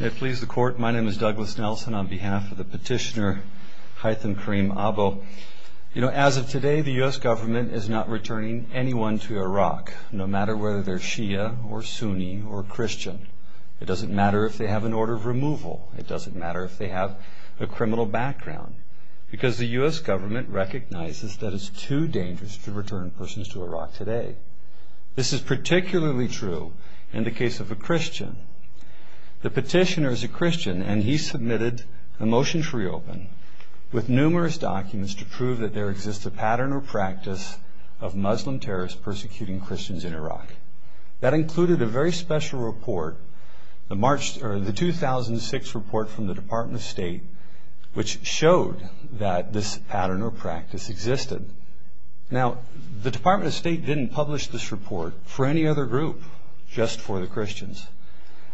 May it please the Court, my name is Douglas Nelson on behalf of the petitioner Hytham Karim Abo. You know, as of today, the U.S. government is not returning anyone to Iraq, no matter whether they're Shia or Sunni or Christian. It doesn't matter if they have an order of removal. It doesn't matter if they have a criminal background. Because the U.S. government recognizes that it's too dangerous to return persons to Iraq today. This is particularly true in the case of a Christian. The petitioner is a Christian, and he submitted a motion to reopen, with numerous documents to prove that there exists a pattern or practice of Muslim terrorists persecuting Christians in Iraq. That included a very special report, the 2006 report from the Department of State, which showed that this pattern or practice existed. Now, the Department of State didn't publish this report for any other group, just for the Christians.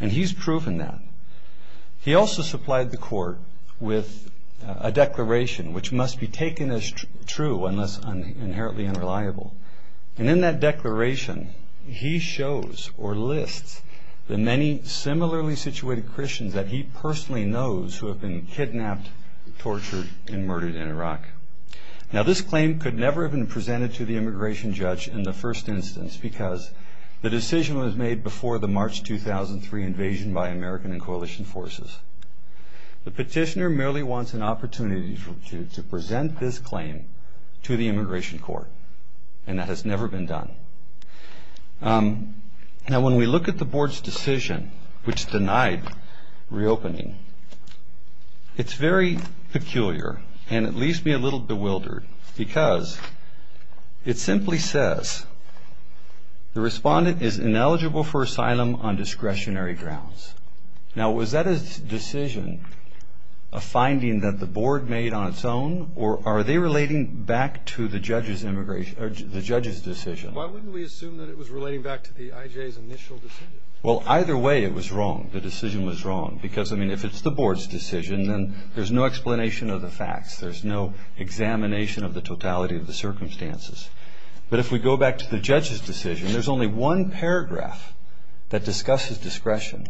And he's proven that. He also supplied the Court with a declaration, which must be taken as true unless inherently unreliable. And in that declaration, he shows or lists the many similarly situated Christians that he personally knows who have been kidnapped, tortured, and murdered in Iraq. Now, this claim could never have been presented to the immigration judge in the first instance, because the decision was made before the March 2003 invasion by American and coalition forces. The petitioner merely wants an opportunity to present this claim to the immigration court. And that has never been done. Now, when we look at the Board's decision, which denied reopening, it's very peculiar, and it leaves me a little bewildered, because it simply says the respondent is ineligible for asylum on discretionary grounds. Now, was that a decision, a finding that the Board made on its own, or are they relating back to the judge's decision? Why wouldn't we assume that it was relating back to the IJ's initial decision? Well, either way, it was wrong. The decision was wrong, because, I mean, if it's the Board's decision, then there's no explanation of the facts. There's no examination of the totality of the circumstances. But if we go back to the judge's decision, there's only one paragraph that discusses discretion.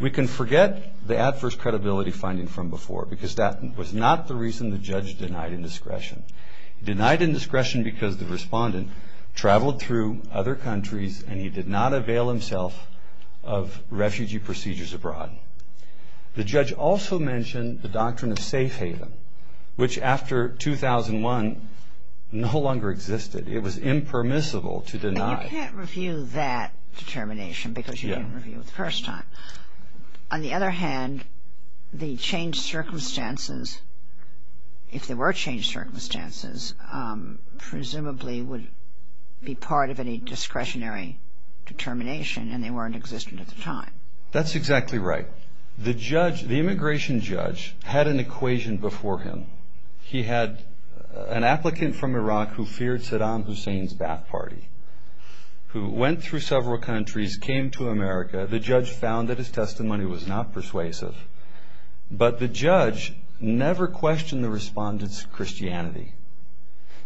We can forget the adverse credibility finding from before, because that was not the reason the judge denied indiscretion. He denied indiscretion because the respondent traveled through other countries, and he did not avail himself of refugee procedures abroad. The judge also mentioned the doctrine of safe haven, which, after 2001, no longer existed. It was impermissible to deny. And you can't review that determination, because you didn't review it the first time. On the other hand, the changed circumstances, if there were changed circumstances, presumably would be part of any discretionary determination, and they weren't existent at the time. That's exactly right. The immigration judge had an equation before him. He had an applicant from Iraq who feared Saddam Hussein's back party, who went through several countries, came to America. The judge found that his testimony was not persuasive. But the judge never questioned the respondent's Christianity.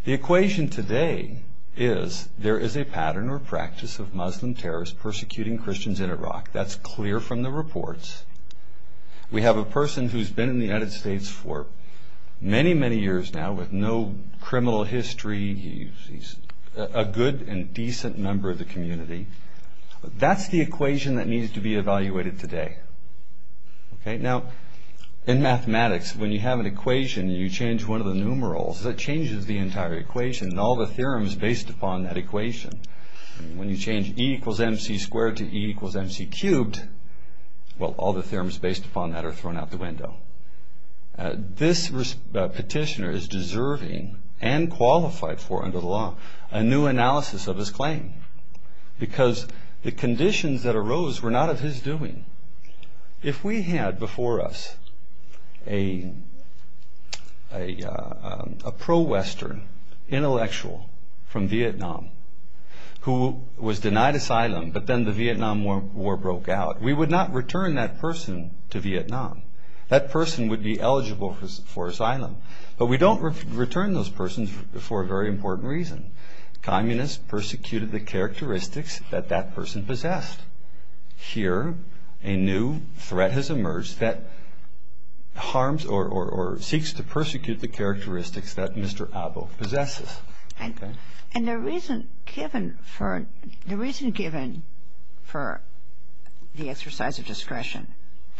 The equation today is there is a pattern or practice of Muslim terrorists persecuting Christians in Iraq. That's clear from the reports. We have a person who's been in the United States for many, many years now with no criminal history. He's a good and decent member of the community. That's the equation that needs to be evaluated today. Now, in mathematics, when you have an equation and you change one of the numerals, that changes the entire equation and all the theorems based upon that equation. When you change E equals MC squared to E equals MC cubed, well, all the theorems based upon that are thrown out the window. This petitioner is deserving and qualified for under the law a new analysis of his claim because the conditions that arose were not of his doing. If we had before us a pro-Western intellectual from Vietnam who was denied asylum, but then the Vietnam War broke out, we would not return that person to Vietnam. That person would be eligible for asylum. But we don't return those persons for a very important reason. Communists persecuted the characteristics that that person possessed. Here, a new threat has emerged that harms or seeks to persecute the characteristics that Mr. Abbo possesses. And the reason given for the exercise of discretion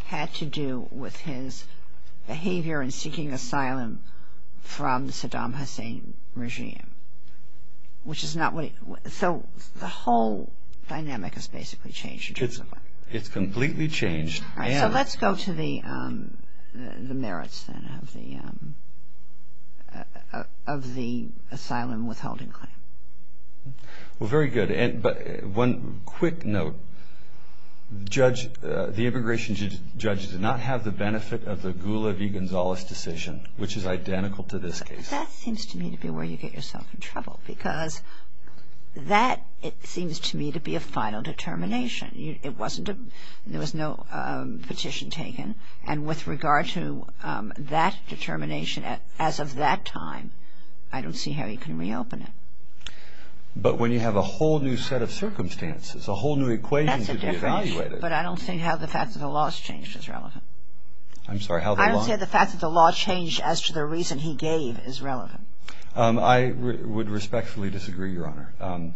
had to do with his behavior in seeking asylum from the Saddam Hussein regime. So the whole dynamic has basically changed. It's completely changed. All right, so let's go to the merits, then, of the asylum withholding claim. Well, very good. But one quick note. The immigration judge did not have the benefit of the Gula V. Gonzales decision, which is identical to this case. That seems to me to be where you get yourself in trouble because that, it seems to me, to be a final determination. It wasn't a, there was no petition taken. And with regard to that determination, as of that time, I don't see how you can reopen it. But when you have a whole new set of circumstances, a whole new equation to be evaluated. That's a difference. But I don't think how the fact that the law has changed is relevant. I'm sorry, how the law? I don't think the fact that the law changed as to the reason he gave is relevant. I would respectfully disagree, Your Honor.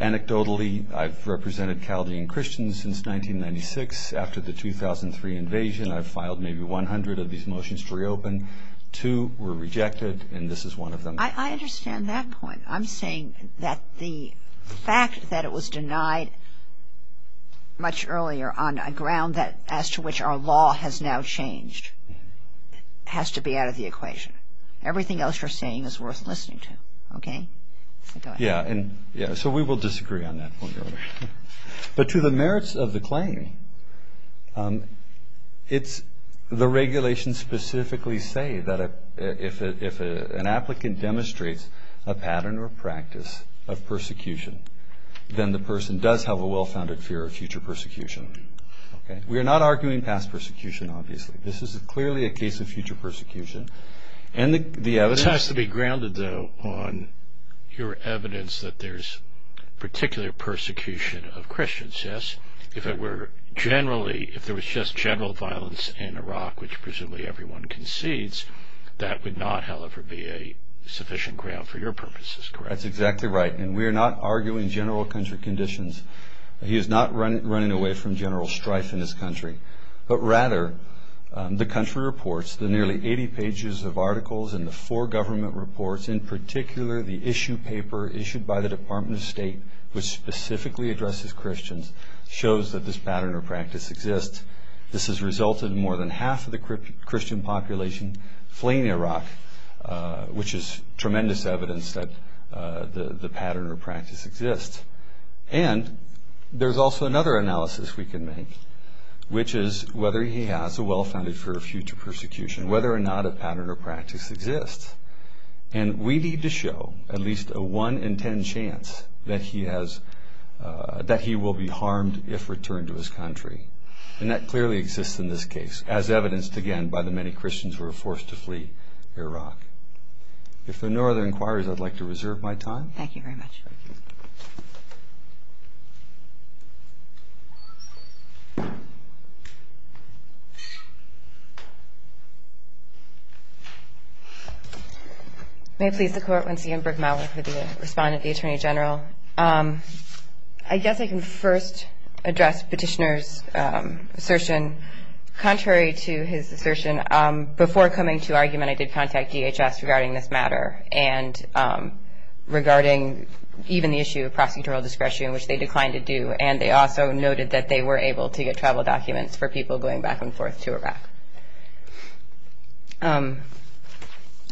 Anecdotally, I've represented Chaldean Christians since 1996. After the 2003 invasion, I've filed maybe 100 of these motions to reopen. Two were rejected, and this is one of them. I understand that point. I'm saying that the fact that it was denied much earlier on a ground that, as to which our law has now changed, has to be out of the equation. Everything else you're saying is worth listening to, okay? Yeah, so we will disagree on that point, Your Honor. But to the merits of the claim, it's the regulations specifically say that if an applicant demonstrates a pattern or practice of persecution, then the person does have a well-founded fear of future persecution. We are not arguing past persecution, obviously. This is clearly a case of future persecution. This has to be grounded, though, on your evidence that there's particular persecution of Christians, yes? If it were generally, if there was just general violence in Iraq, which presumably everyone concedes, that would not, however, be a sufficient ground for your purposes, correct? That's exactly right. And we are not arguing general country conditions. He is not running away from general strife in this country. But rather, the country reports, the nearly 80 pages of articles and the four government reports, in particular the issue paper issued by the Department of State, which specifically addresses Christians, shows that this pattern or practice exists. This has resulted in more than half of the Christian population fleeing Iraq, which is tremendous evidence that the pattern or practice exists. And there's also another analysis we can make, which is whether he has a well-founded fear of future persecution, whether or not a pattern or practice exists. And we need to show at least a 1 in 10 chance that he will be harmed if returned to his country. And that clearly exists in this case, as evidenced, again, by the many Christians who are forced to flee Iraq. If there are no other inquiries, I'd like to reserve my time. Thank you very much. May it please the Court. Lindsay M. Brickmell with the respondent, the Attorney General. I guess I can first address Petitioner's assertion. Contrary to his assertion, before coming to argument, I did contact DHS regarding this matter and regarding even the issue of prosecutorial discretion, which they declined to do. And they also noted that they were able to get travel documents for people going back and forth to Iraq.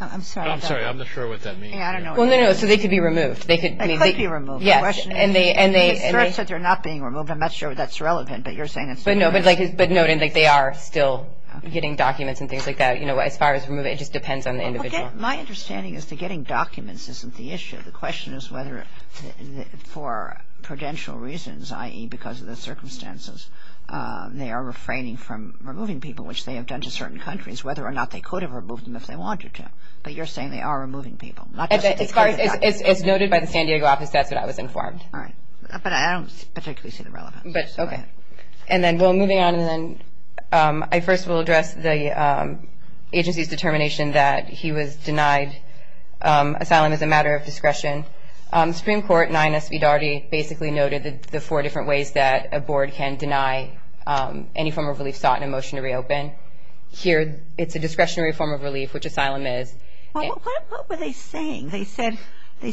I'm sorry. I'm not sure what that means. I don't know what that means. Well, no, no. So they could be removed. They could be removed. Yes. The question is, the assertion said they're not being removed. I'm not sure that's relevant, but you're saying it's not relevant. But, no, they are still getting documents and things like that. You know, as far as removing, it just depends on the individual. My understanding is that getting documents isn't the issue. The question is whether, for prudential reasons, i.e., because of the circumstances, they are refraining from removing people, which they have done to certain countries, whether or not they could have removed them if they wanted to. But you're saying they are removing people. As noted by the San Diego office, that's what I was informed. All right. But I don't particularly see the relevance. Okay. And then, well, moving on, and then I first will address the agency's determination that he was denied asylum as a matter of discretion. The Supreme Court, 9S v. Daugherty, basically noted the four different ways that a board can deny any form of relief sought in a motion to reopen. Here, it's a discretionary form of relief, which asylum is. Well, what were they saying? They said they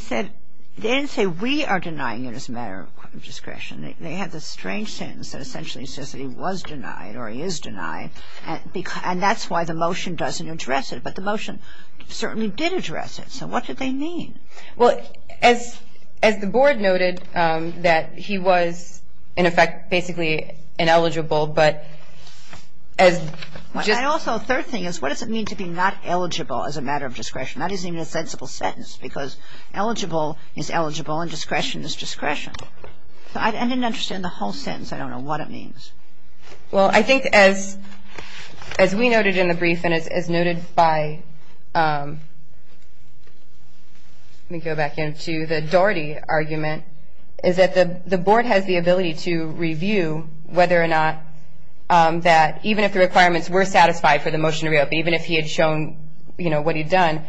didn't say we are denying it as a matter of discretion. They had this strange sentence that essentially says that he was denied or he is denied. And that's why the motion doesn't address it. But the motion certainly did address it. So what did they mean? Well, as the board noted, that he was, in effect, basically ineligible. But as just – And also, a third thing is, what does it mean to be not eligible as a matter of discretion? That isn't even a sensible sentence because eligible is eligible and discretion is discretion. So I didn't understand the whole sentence. I don't know what it means. Well, I think as we noted in the brief and as noted by – let me go back into the Daugherty argument – is that the board has the ability to review whether or not that, even if the requirements were satisfied for the motion to reopen, even if he had shown, you know, what he'd done,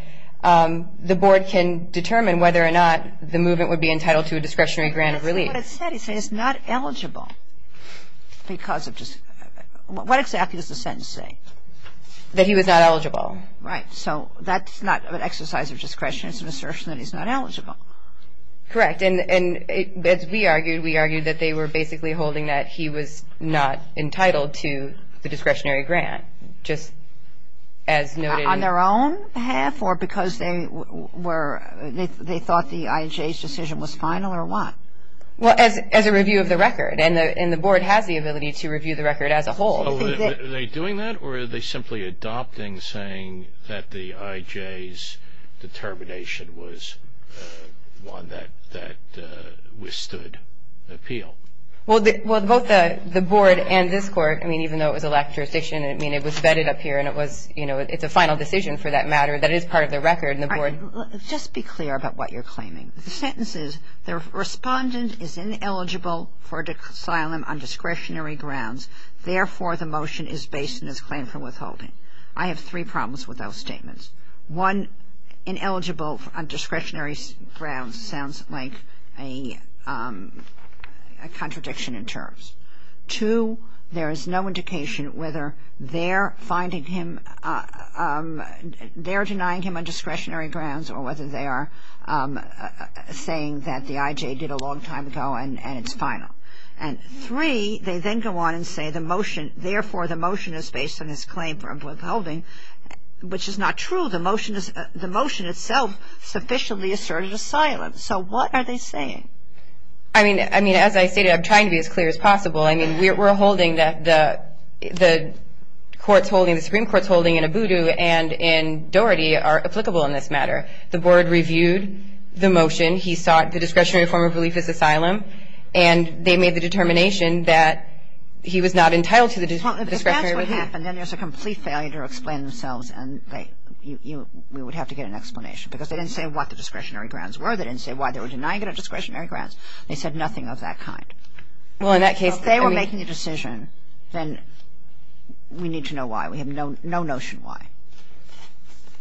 the board can determine whether or not the movement would be entitled to a discretionary grant of relief. But that's not what it said. It said he's not eligible because of – what exactly does the sentence say? That he was not eligible. Right. So that's not an exercise of discretion. It's an assertion that he's not eligible. Correct. And as we argued, we argued that they were basically holding that he was not entitled to the discretionary grant, just as noted in – On their own behalf or because they were – they thought the IJ's decision was final or what? Well, as a review of the record. And the board has the ability to review the record as a whole. So are they doing that or are they simply adopting, saying that the IJ's determination was one that withstood appeal? Well, both the board and this Court, I mean, even though it was a lack of jurisdiction, I mean, it was vetted up here and it was – you know, it's a final decision for that matter that is part of the record and the board – All right. Just be clear about what you're claiming. The sentence is the respondent is ineligible for asylum on discretionary grounds. Therefore, the motion is based on his claim for withholding. I have three problems with those statements. Two, there is no indication whether they're finding him – they're denying him on discretionary grounds or whether they are saying that the IJ did a long time ago and it's final. And three, they then go on and say the motion – therefore, the motion is based on his claim for withholding, which is not true. The motion itself sufficiently asserted asylum. So what are they saying? I mean, as I stated, I'm trying to be as clear as possible. I mean, we're holding that the courts holding – the Supreme Court's holding in Abudu and in Doherty are applicable in this matter. The board reviewed the motion. He sought the discretionary form of relief as asylum. And they made the determination that he was not entitled to the discretionary relief. Well, if that's what happened, then there's a complete failure to explain themselves and we would have to get an explanation because they didn't say what the discretionary grounds were. They didn't say why they were denying it on discretionary grounds. They said nothing of that kind. Well, in that case – If they were making a decision, then we need to know why. We have no notion why.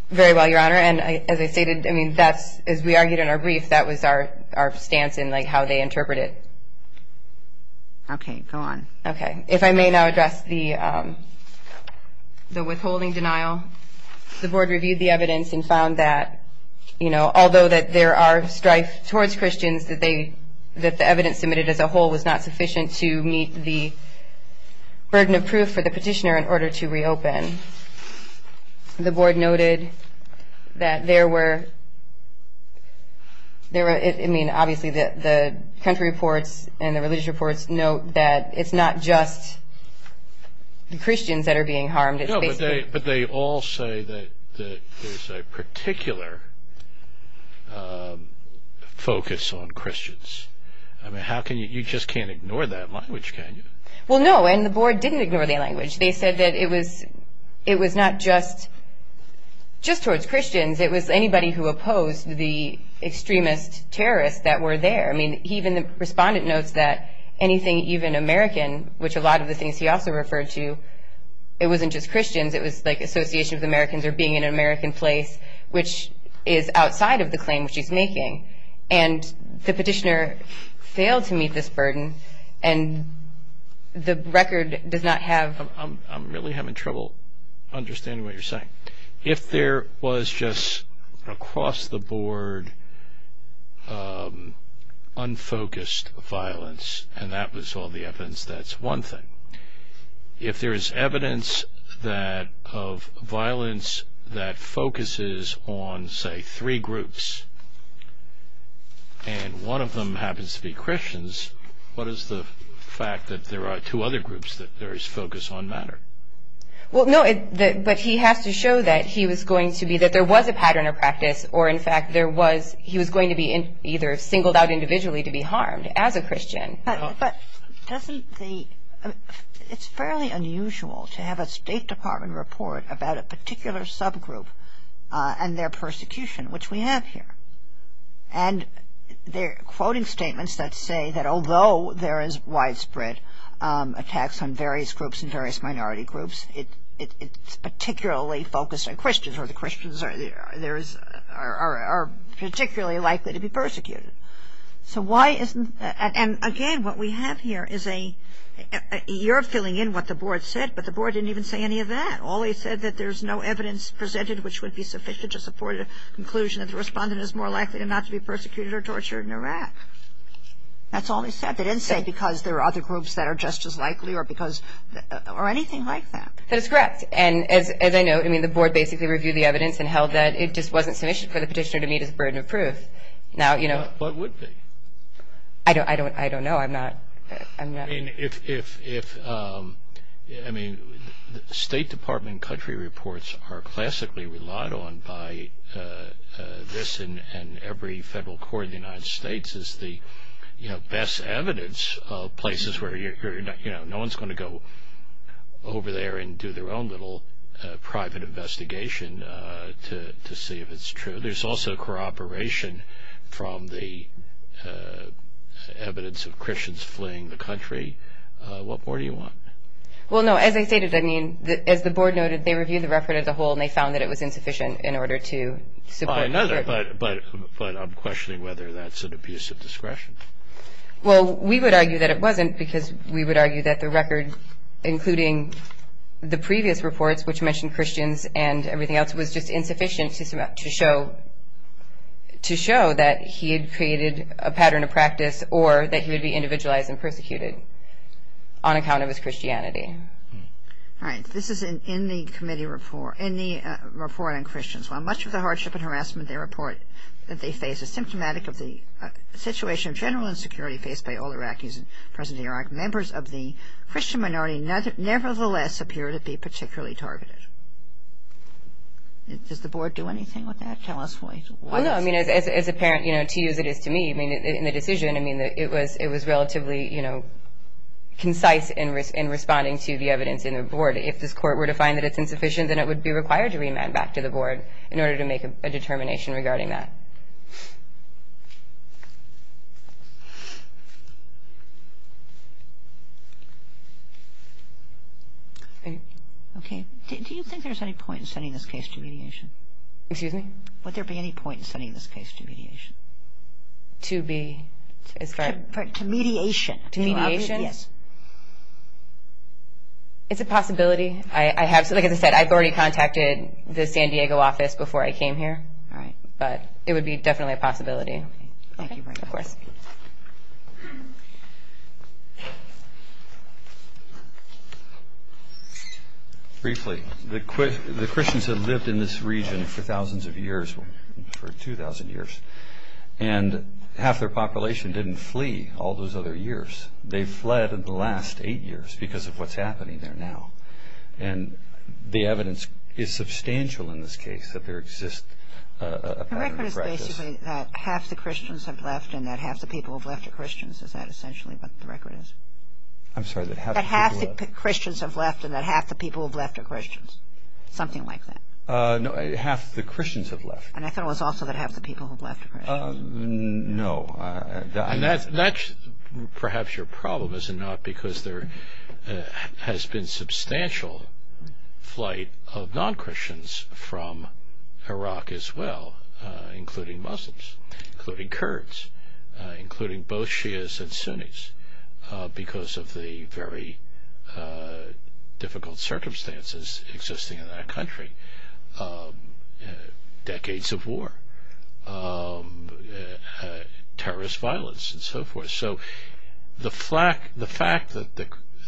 Very well, Your Honor. And as I stated, I mean, that's – as we argued in our brief, that was our stance in, like, how they interpret it. Okay. Go on. Okay. If I may now address the withholding denial. The board reviewed the evidence and found that, you know, although that there are strife towards Christians, that the evidence submitted as a whole was not sufficient to meet the burden of proof for the petitioner in order to reopen. The board noted that there were – I mean, obviously the country reports and the religious reports note that it's not just the Christians that are being harmed. No, but they all say that there's a particular focus on Christians. I mean, how can you – you just can't ignore that language, can you? Well, no, and the board didn't ignore that language. They said that it was not just towards Christians. It was anybody who opposed the extremist terrorists that were there. I mean, even the respondent notes that anything even American, which a lot of the things he also referred to, it wasn't just Christians. It was, like, association with Americans or being in an American place, which is outside of the claim which he's making. And the petitioner failed to meet this burden, and the record does not have – I'm really having trouble understanding what you're saying. If there was just across the board unfocused violence, and that was all the evidence, that's one thing. If there is evidence of violence that focuses on, say, three groups, and one of them happens to be Christians, what is the fact that there are two other groups that there is focus on matter? Well, no, but he has to show that he was going to be – that there was a pattern of practice, or, in fact, there was – he was going to be either singled out individually to be harmed as a Christian. But doesn't the – it's fairly unusual to have a State Department report about a particular subgroup and their persecution, which we have here. And they're quoting statements that say that although there is widespread attacks on various groups and various minority groups, it's particularly focused on Christians, or the Christians are particularly likely to be persecuted. So why isn't – and, again, what we have here is a – you're filling in what the board said, but the board didn't even say any of that. All they said that there's no evidence presented which would be sufficient to support a conclusion that the respondent is more likely not to be persecuted or tortured in Iraq. That's all they said. They didn't say because there are other groups that are just as likely or because – or anything like that. That is correct. And as I know, I mean, the board basically reviewed the evidence and held that it just wasn't sufficient for the petitioner to meet his burden of proof. Now, you know – What would be? I don't know. I'm not – I mean, if – I mean, State Department country reports are classically relied on by this and every federal court in the United States as the, you know, best evidence of places where, you know, no one's going to go over there and do their own little private investigation to see if it's true. There's also corroboration from the evidence of Christians fleeing the country. What more do you want? Well, no, as I stated, I mean, as the board noted, they reviewed the record as a whole and they found that it was insufficient in order to support – By another, but I'm questioning whether that's an abuse of discretion. Well, we would argue that it wasn't because we would argue that the record, including the previous reports which mentioned Christians and everything else, was just insufficient to show that he had created a pattern of practice or that he would be individualized and persecuted on account of his Christianity. All right. This is in the committee report – in the report on Christians. While much of the hardship and harassment they report that they face is symptomatic of the situation of general insecurity faced by all Iraqis in present-day Iraq, members of the Christian minority nevertheless appear to be particularly targeted. Does the board do anything with that? Tell us why. Well, no, I mean, as apparent, you know, to you as it is to me, I mean, in the decision, I mean, it was relatively, you know, concise in responding to the evidence in the board. If this court were to find that it's insufficient, then it would be required to remand back to the board in order to make a determination regarding that. Okay. Do you think there's any point in sending this case to mediation? Excuse me? Would there be any point in sending this case to mediation? To be? To mediation. To mediation? Yes. It's a possibility. Like I said, I've already contacted the San Diego office before I came here. All right. But it would be definitely a possibility. Okay. Thank you very much. Of course. Briefly, the Christians have lived in this region for thousands of years, for 2,000 years, and half their population didn't flee all those other years. They fled in the last eight years because of what's happening there now. And the evidence is substantial in this case that there exists a pattern of records. The record is basically that half the Christians have left and that half the people who have left are Christians. Is that essentially what the record is? I'm sorry. That half the Christians have left and that half the people who have left are Christians. Something like that. No, half the Christians have left. And I thought it was also that half the people who have left are Christians. No. And that's perhaps your problem, is it not, because there has been substantial flight of non-Christians from Iraq as well, including Muslims, including Kurds, including both Shias and Sunnis, because of the very difficult circumstances existing in that country. Decades of war, terrorist violence, and so forth. So the fact that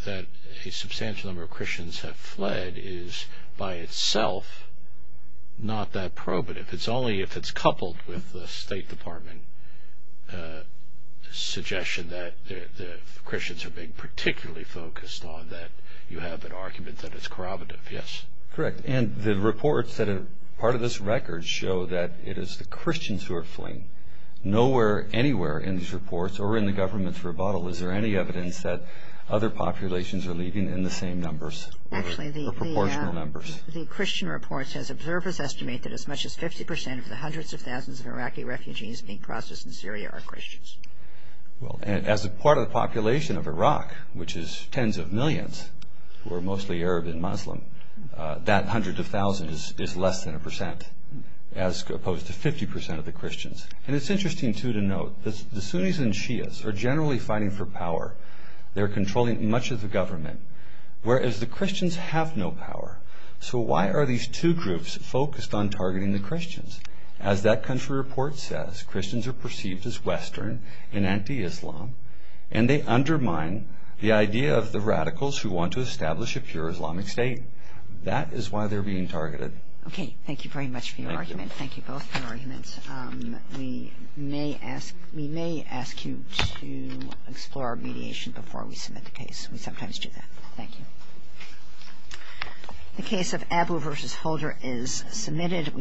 a substantial number of Christians have fled is by itself not that probative. It's only if it's coupled with the State Department suggestion that the Christians are being particularly focused on that you have an argument that it's corroborative. Yes. Correct. And the reports that are part of this record show that it is the Christians who are fleeing. Nowhere anywhere in these reports or in the government's rebuttal is there any evidence that other populations are leaving in the same numbers or proportional numbers. Actually, the Christian reports, as observers estimate, that as much as 50 percent of the hundreds of thousands of Iraqi refugees being processed in Syria are Christians. Well, as a part of the population of Iraq, which is tens of millions who are mostly Arab and Muslim, that hundred of thousands is less than a percent, as opposed to 50 percent of the Christians. And it's interesting, too, to note that the Sunnis and Shias are generally fighting for power. They're controlling much of the government, whereas the Christians have no power. So why are these two groups focused on targeting the Christians? As that country report says, Christians are perceived as Western and anti-Islam, and they undermine the idea of the radicals who want to establish a pure Islamic state. That is why they're being targeted. Okay. Thank you very much for your argument. Thank you. Thank you both for your arguments. We may ask you to explore our mediation before we submit the case. We sometimes do that. Thank you. The case of Abu versus Holder is submitted.